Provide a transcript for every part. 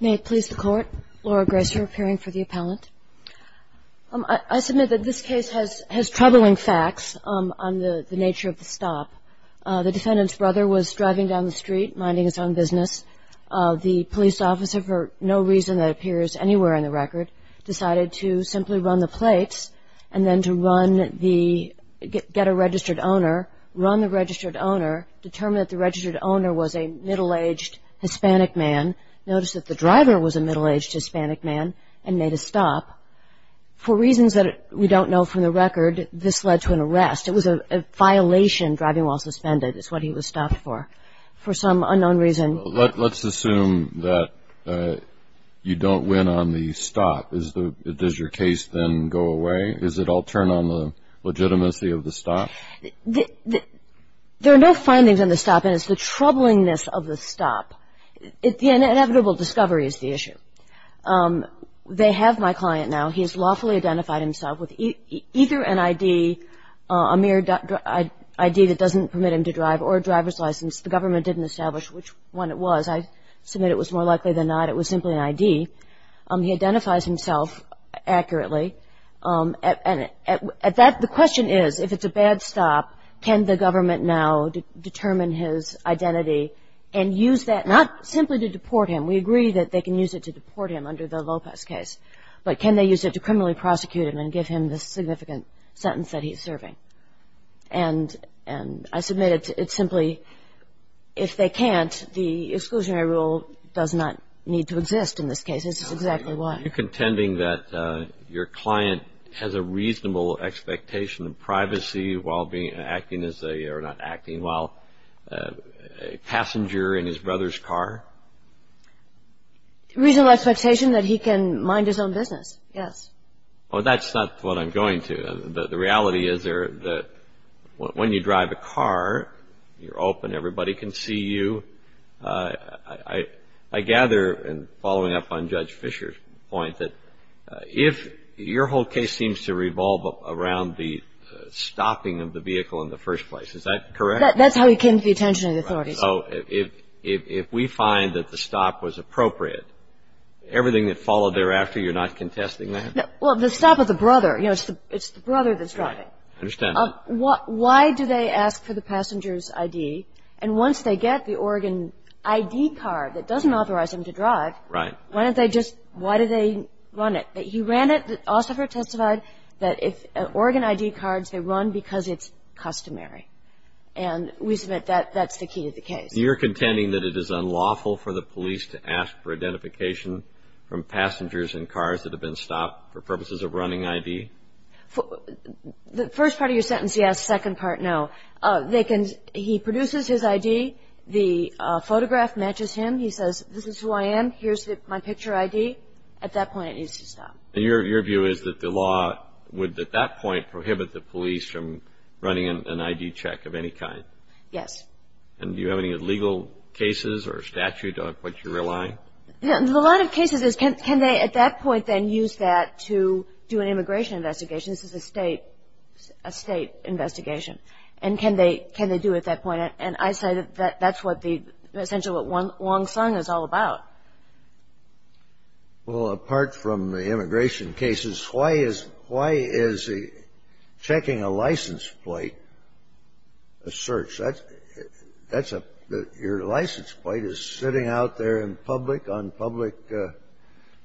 May it please the Court, Laura Gracer appearing for the appellant. I submit that this case has troubling facts on the nature of the stop. The defendant's brother was driving down the street, minding his own business. The police officer, for no reason that appears anywhere in the record, decided to simply run the plates and then to get a registered owner, run the registered owner, determine that the registered owner was a middle-aged Hispanic man. Notice that the driver was a middle-aged Hispanic man and made a stop. For reasons that we don't know from the record, this led to an arrest. It was a violation, driving while suspended is what he was stopped for, for some unknown reason. Let's assume that you don't win on the stop. Does your case then go away? Does it all turn on the legitimacy of the stop? There are no findings on the stop, and it's the troublingness of the stop. The inevitable discovery is the issue. They have my client now. He has lawfully identified himself with either an ID, a mere ID that doesn't permit him to drive, or a driver's license. The government didn't establish which one it was. I submit it was more likely than not it was simply an ID. He identifies himself accurately. And at that, the question is, if it's a bad stop, can the government now determine his identity and use that not simply to deport him. We agree that they can use it to deport him under the Lopez case. But can they use it to criminally prosecute him and give him the significant sentence that he's serving? And I submit it's simply if they can't, the exclusionary rule does not need to exist in this case. This is exactly why. Are you contending that your client has a reasonable expectation of privacy while acting as a or not acting while a passenger in his brother's car? A reasonable expectation that he can mind his own business, yes. Well, that's not what I'm going to. The reality is that when you drive a car, you're open, everybody can see you. I gather in following up on Judge Fisher's point that if your whole case seems to revolve around the stopping of the vehicle in the first place, is that correct? That's how he came to the attention of the authorities. Right. So if we find that the stop was appropriate, everything that followed thereafter, you're not contesting that? Well, the stop of the brother, you know, it's the brother that's driving. I understand. Why do they ask for the passenger's I.D.? And once they get the Oregon I.D. card that doesn't authorize them to drive. Right. Why don't they just why do they run it? He ran it. The officer testified that if Oregon I.D. cards, they run because it's customary. And we submit that that's the key to the case. You're contending that it is unlawful for the police to ask for identification from passengers in cars that have been stopped for purposes of running I.D.? The first part of your sentence, yes. The second part, no. He produces his I.D. The photograph matches him. He says, this is who I am. Here's my picture I.D. At that point, it needs to stop. And your view is that the law would, at that point, prohibit the police from running an I.D. check of any kind? Yes. And do you have any legal cases or statute of what you're relying? The line of cases is can they, at that point, then use that to do an immigration investigation? This is a state investigation. And can they do it at that point? And I say that that's what the, essentially what Wong Sung is all about. Well, apart from the immigration cases, why is checking a license plate a search? Your license plate is sitting out there in public on public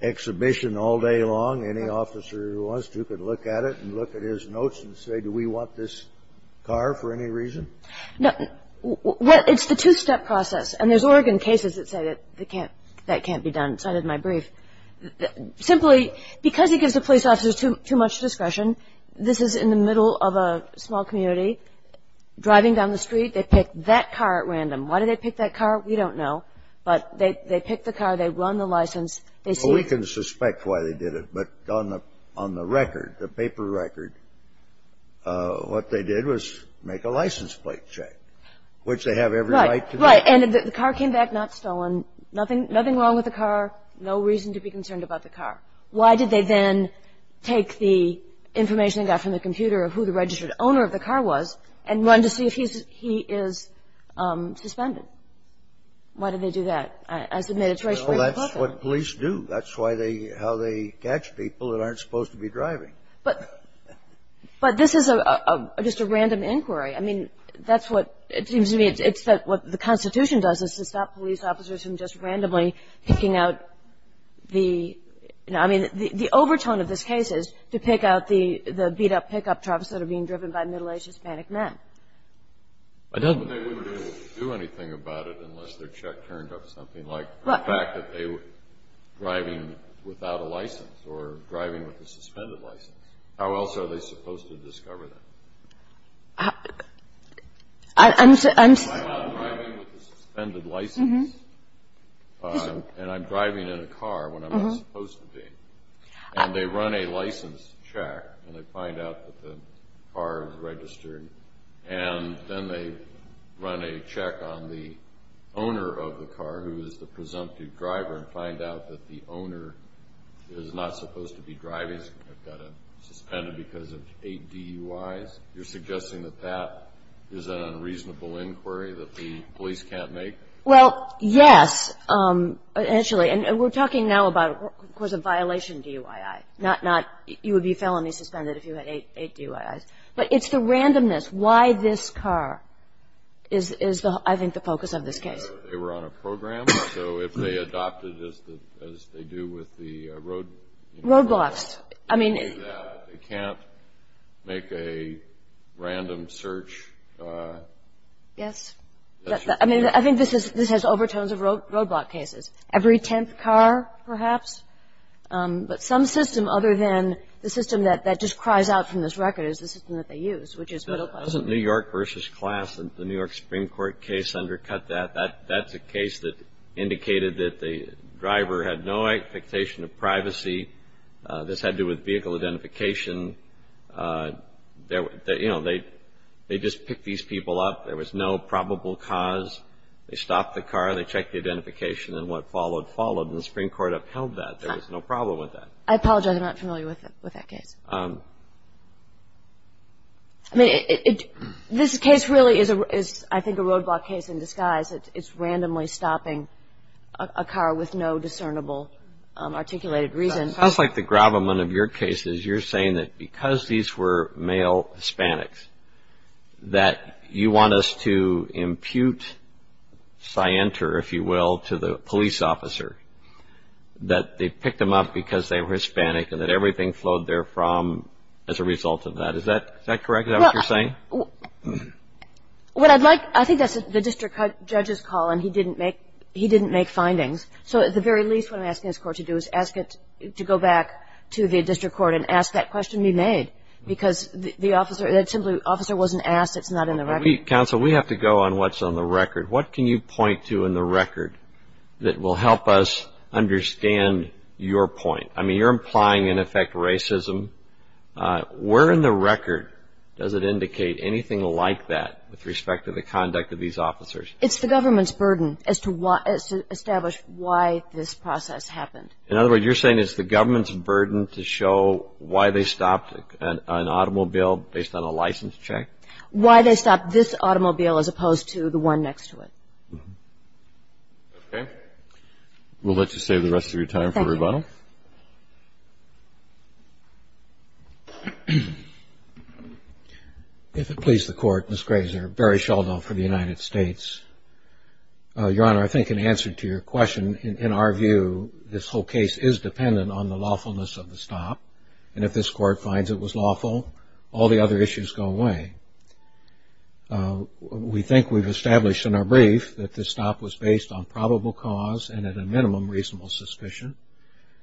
exhibition all day long. Any officer who wants to can look at it and look at his notes and say, do we want this car for any reason? No. It's the two-step process. And there's Oregon cases that say that can't be done. It's not in my brief. Simply, because he gives the police officers too much discretion, this is in the middle of a small community. Driving down the street, they pick that car at random. Why do they pick that car? We don't know. But they pick the car. They run the license. They see it. Well, we can suspect why they did it. But on the record, the paper record, what they did was make a license plate check, which they have every right to do. Right. And the car came back not stolen. Nothing wrong with the car. No reason to be concerned about the car. Why did they then take the information they got from the computer of who the registered owner of the car was and run to see if he is suspended? Why did they do that? I submit it's racially inappropriate. Well, that's what police do. That's how they catch people that aren't supposed to be driving. But this is just a random inquiry. I mean, that's what it seems to me it's that what the Constitution does is to stop police officers from just randomly picking out the, I mean, the overtone of this case is to pick out the beat-up pickup trucks that are being driven by middle-aged Hispanic men. But they wouldn't be able to do anything about it unless their check turned up something like the fact that they were driving without a license or driving with a suspended license. How else are they supposed to discover that? I'm sorry. I'm sorry. I'm not driving with a suspended license. And I'm driving in a car when I'm not supposed to be. And they run a license check, and they find out that the car is registered. And then they run a check on the owner of the car, who is the presumptive driver, and find out that the owner is not supposed to be driving. I've got a suspended because of eight DUIs. You're suggesting that that is an unreasonable inquiry that the police can't make? Well, yes, initially. And we're talking now about, of course, a violation DUI, not you would be felony suspended if you had eight DUIs. But it's the randomness, why this car is, I think, the focus of this case. They were on a program, so if they adopted, as they do with the road laws, they can't make a random search. Yes. I mean, I think this has overtones of roadblock cases. Every tenth car, perhaps. But some system other than the system that just cries out from this record is the system that they use, which is middle class. Doesn't New York versus class, the New York Supreme Court case, undercut that? That's a case that indicated that the driver had no expectation of privacy. This had to do with vehicle identification. You know, they just picked these people up. There was no probable cause. They stopped the car. They checked the identification. And what followed followed, and the Supreme Court upheld that. There was no problem with that. I apologize. I'm not familiar with that case. I mean, this case really is, I think, a roadblock case in disguise. It's randomly stopping a car with no discernible articulated reason. It sounds like the gravamen of your case is you're saying that because these were male Hispanics, that you want us to impute scienter, if you will, to the police officer, that they picked them up because they were Hispanic and that everything flowed there from as a result of that. Is that correct? Is that what you're saying? Well, I think that's the district judge's call, and he didn't make findings. So at the very least, what I'm asking this Court to do is ask it to go back to the district court and ask that question be made because the officer wasn't asked. It's not in the record. Counsel, we have to go on what's on the record. What can you point to in the record that will help us understand your point? I mean, you're implying, in effect, racism. Where in the record does it indicate anything like that with respect to the conduct of these officers? It's the government's burden as to establish why this process happened. In other words, you're saying it's the government's burden to show why they stopped an automobile based on a license check? Why they stopped this automobile as opposed to the one next to it. Okay. We'll let you save the rest of your time for rebuttal. Thank you. If it pleases the Court, Ms. Grazer, Barry Sheldon for the United States. Your Honor, I think in answer to your question, in our view, this whole case is dependent on the lawfulness of the stop, and if this Court finds it was lawful, all the other issues go away. We think we've established in our brief that this stop was based on probable cause and at a minimum reasonable suspicion.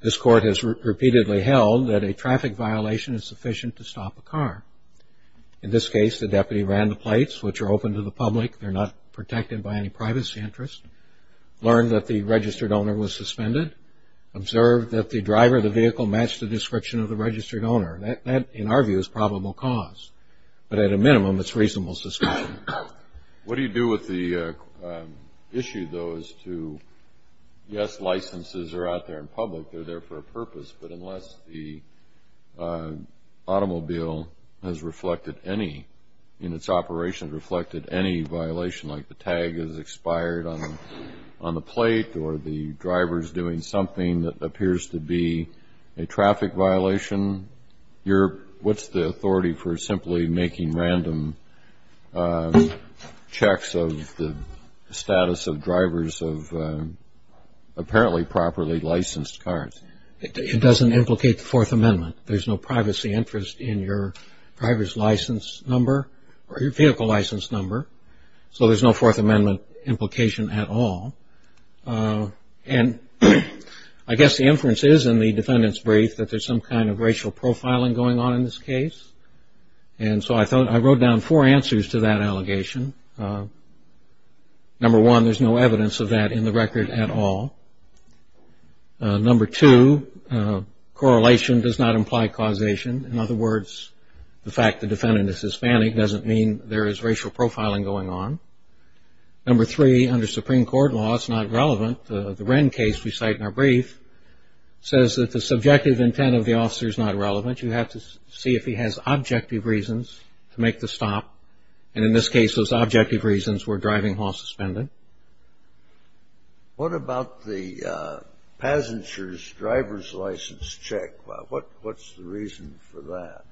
This Court has repeatedly held that a traffic violation is sufficient to stop a car. In this case, the deputy ran the plates, which are open to the public. They're not protected by any privacy interest, learned that the registered owner was suspended, observed that the driver of the vehicle matched the description of the registered owner. That, in our view, is probable cause. But at a minimum, it's reasonable suspicion. What do you do with the issue, though, as to, yes, licenses are out there in public, they're there for a purpose, but unless the automobile has reflected any, in its operation has reflected any violation, like the tag is expired on the plate or the driver is doing something that appears to be a traffic violation, what's the authority for simply making random checks of the status of drivers of apparently properly licensed cars? It doesn't implicate the Fourth Amendment. There's no privacy interest in your driver's license number or your vehicle license number, so there's no Fourth Amendment implication at all. And I guess the inference is in the defendant's brief that there's some kind of racial profiling going on in this case, and so I wrote down four answers to that allegation. Number one, there's no evidence of that in the record at all. Number two, correlation does not imply causation. In other words, the fact the defendant is Hispanic doesn't mean there is racial profiling going on. Number three, under Supreme Court law, it's not relevant. The Wren case we cite in our brief says that the subjective intent of the officer is not relevant. You have to see if he has objective reasons to make the stop, and in this case those objective reasons were driving while suspended. What about the passenger's driver's license check? What's the reason for that?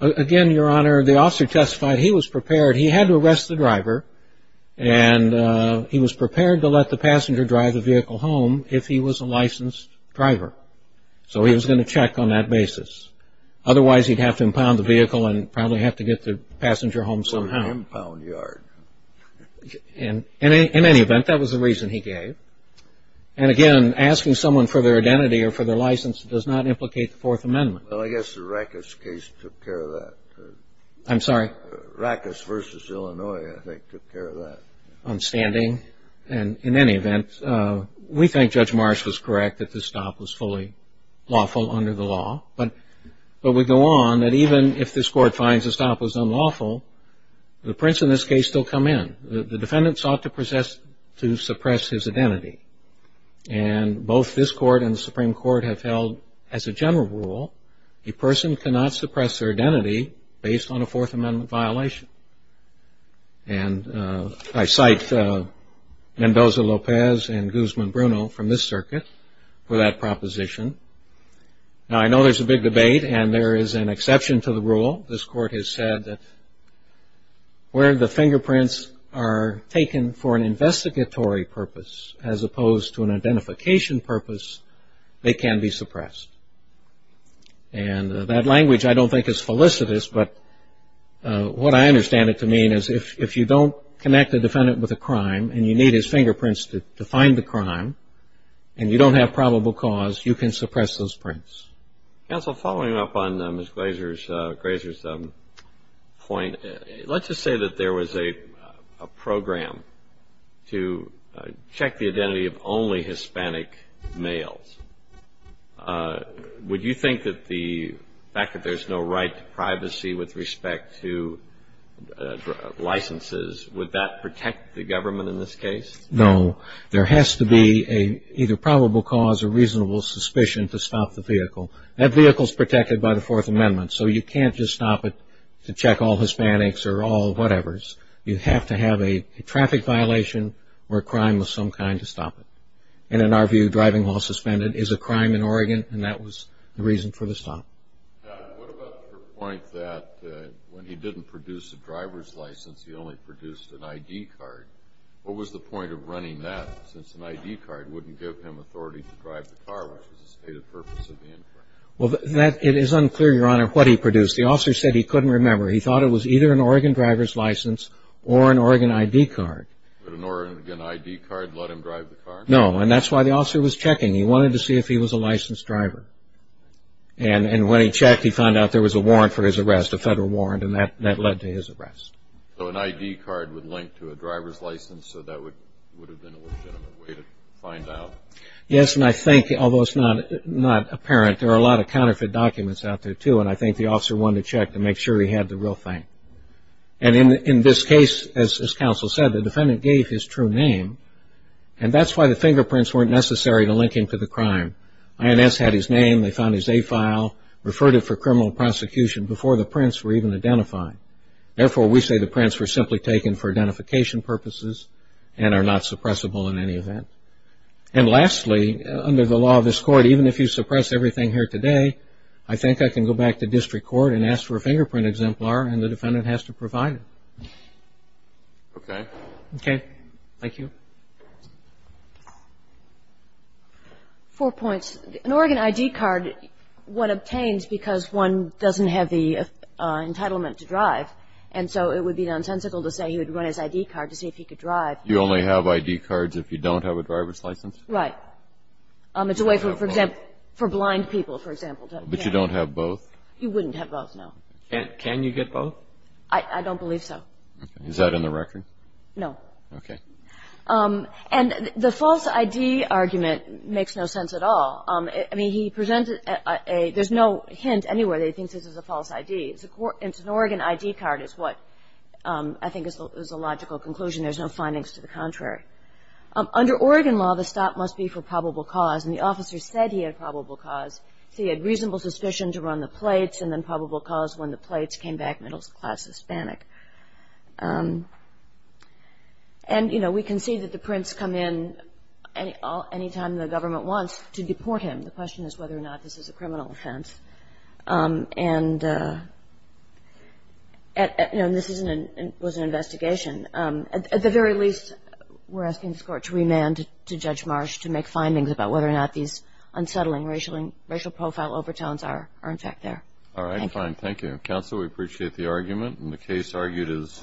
Again, Your Honor, the officer testified he was prepared. He had to arrest the driver, and he was prepared to let the passenger drive the vehicle home if he was a licensed driver, so he was going to check on that basis. Otherwise, he'd have to impound the vehicle and probably have to get the passenger home somehow. Or the impound yard. In any event, that was the reason he gave. And again, asking someone for their identity or for their license does not implicate the Fourth Amendment. Well, I guess the Rackus case took care of that. I'm sorry? Rackus v. Illinois, I think, took care of that. Outstanding. In any event, we think Judge Marsh was correct that the stop was fully lawful under the law, but we go on that even if this Court finds the stop was unlawful, the prints in this case still come in. The defendant sought to suppress his identity, and both this Court and the Supreme Court have held as a general rule a person cannot suppress their identity based on a Fourth Amendment violation. And I cite Mendoza-Lopez and Guzman-Bruno from this circuit for that proposition. Now, I know there's a big debate, and there is an exception to the rule. This Court has said that where the fingerprints are taken for an investigatory purpose as opposed to an identification purpose, they can be suppressed. And that language I don't think is felicitous, but what I understand it to mean is if you don't connect a defendant with a crime and you need his fingerprints to find the crime and you don't have probable cause, you can suppress those prints. Counsel, following up on Ms. Grazer's point, let's just say that there was a program to check the identity of only Hispanic males. Would you think that the fact that there's no right to privacy with respect to licenses, would that protect the government in this case? No. There has to be either probable cause or reasonable suspicion to stop the vehicle. That vehicle is protected by the Fourth Amendment, so you can't just stop it to check all Hispanics or all whatevers. You have to have a traffic violation or a crime of some kind to stop it. And in our view, driving while suspended is a crime in Oregon, and that was the reason for the stop. Now, what about her point that when he didn't produce a driver's license, he only produced an ID card? What was the point of running that, since an ID card wouldn't give him authority to drive the car, which was the stated purpose of the inquiry? Well, it is unclear, Your Honor, what he produced. The officer said he couldn't remember. He thought it was either an Oregon driver's license or an Oregon ID card. Would an Oregon ID card let him drive the car? No, and that's why the officer was checking. He wanted to see if he was a licensed driver. And when he checked, he found out there was a warrant for his arrest, a federal warrant, and that led to his arrest. So an ID card would link to a driver's license, so that would have been a legitimate way to find out? Yes, and I think, although it's not apparent, there are a lot of counterfeit documents out there, too, and I think the officer wanted to check to make sure he had the real thing. And in this case, as counsel said, the defendant gave his true name, and that's why the fingerprints weren't necessary to link him to the crime. INS had his name, they found his A file, referred him for criminal prosecution before the prints were even identified. Therefore, we say the prints were simply taken for identification purposes and are not suppressible in any event. And lastly, under the law of this Court, even if you suppress everything here today, I think I can go back to district court and ask for a fingerprint exemplar, and the defendant has to provide it. Okay. Okay. Thank you. Four points. One is, an Oregon I.D. card, one obtains because one doesn't have the entitlement to drive, and so it would be nonsensical to say he would run his I.D. card to see if he could drive. You only have I.D. cards if you don't have a driver's license? Right. It's a way, for example, for blind people, for example. But you don't have both? You wouldn't have both, no. Can you get both? I don't believe so. Okay. Is that in the record? No. Okay. And the false I.D. argument makes no sense at all. I mean, there's no hint anywhere that he thinks this is a false I.D. It's an Oregon I.D. card is what I think is the logical conclusion. There's no findings to the contrary. Under Oregon law, the stop must be for probable cause, and the officer said he had probable cause. So he had reasonable suspicion to run the plates, and then probable cause when the plates came back middle-class Hispanic. And, you know, we can see that the prints come in any time the government wants to deport him. The question is whether or not this is a criminal offense. And, you know, this was an investigation. At the very least, we're asking this Court to remand to Judge Marsh to make findings about whether or not these unsettling racial profile overtones are in fact there. All right. Fine. Thank you. Counsel, we appreciate the argument. And the case argued is submitted.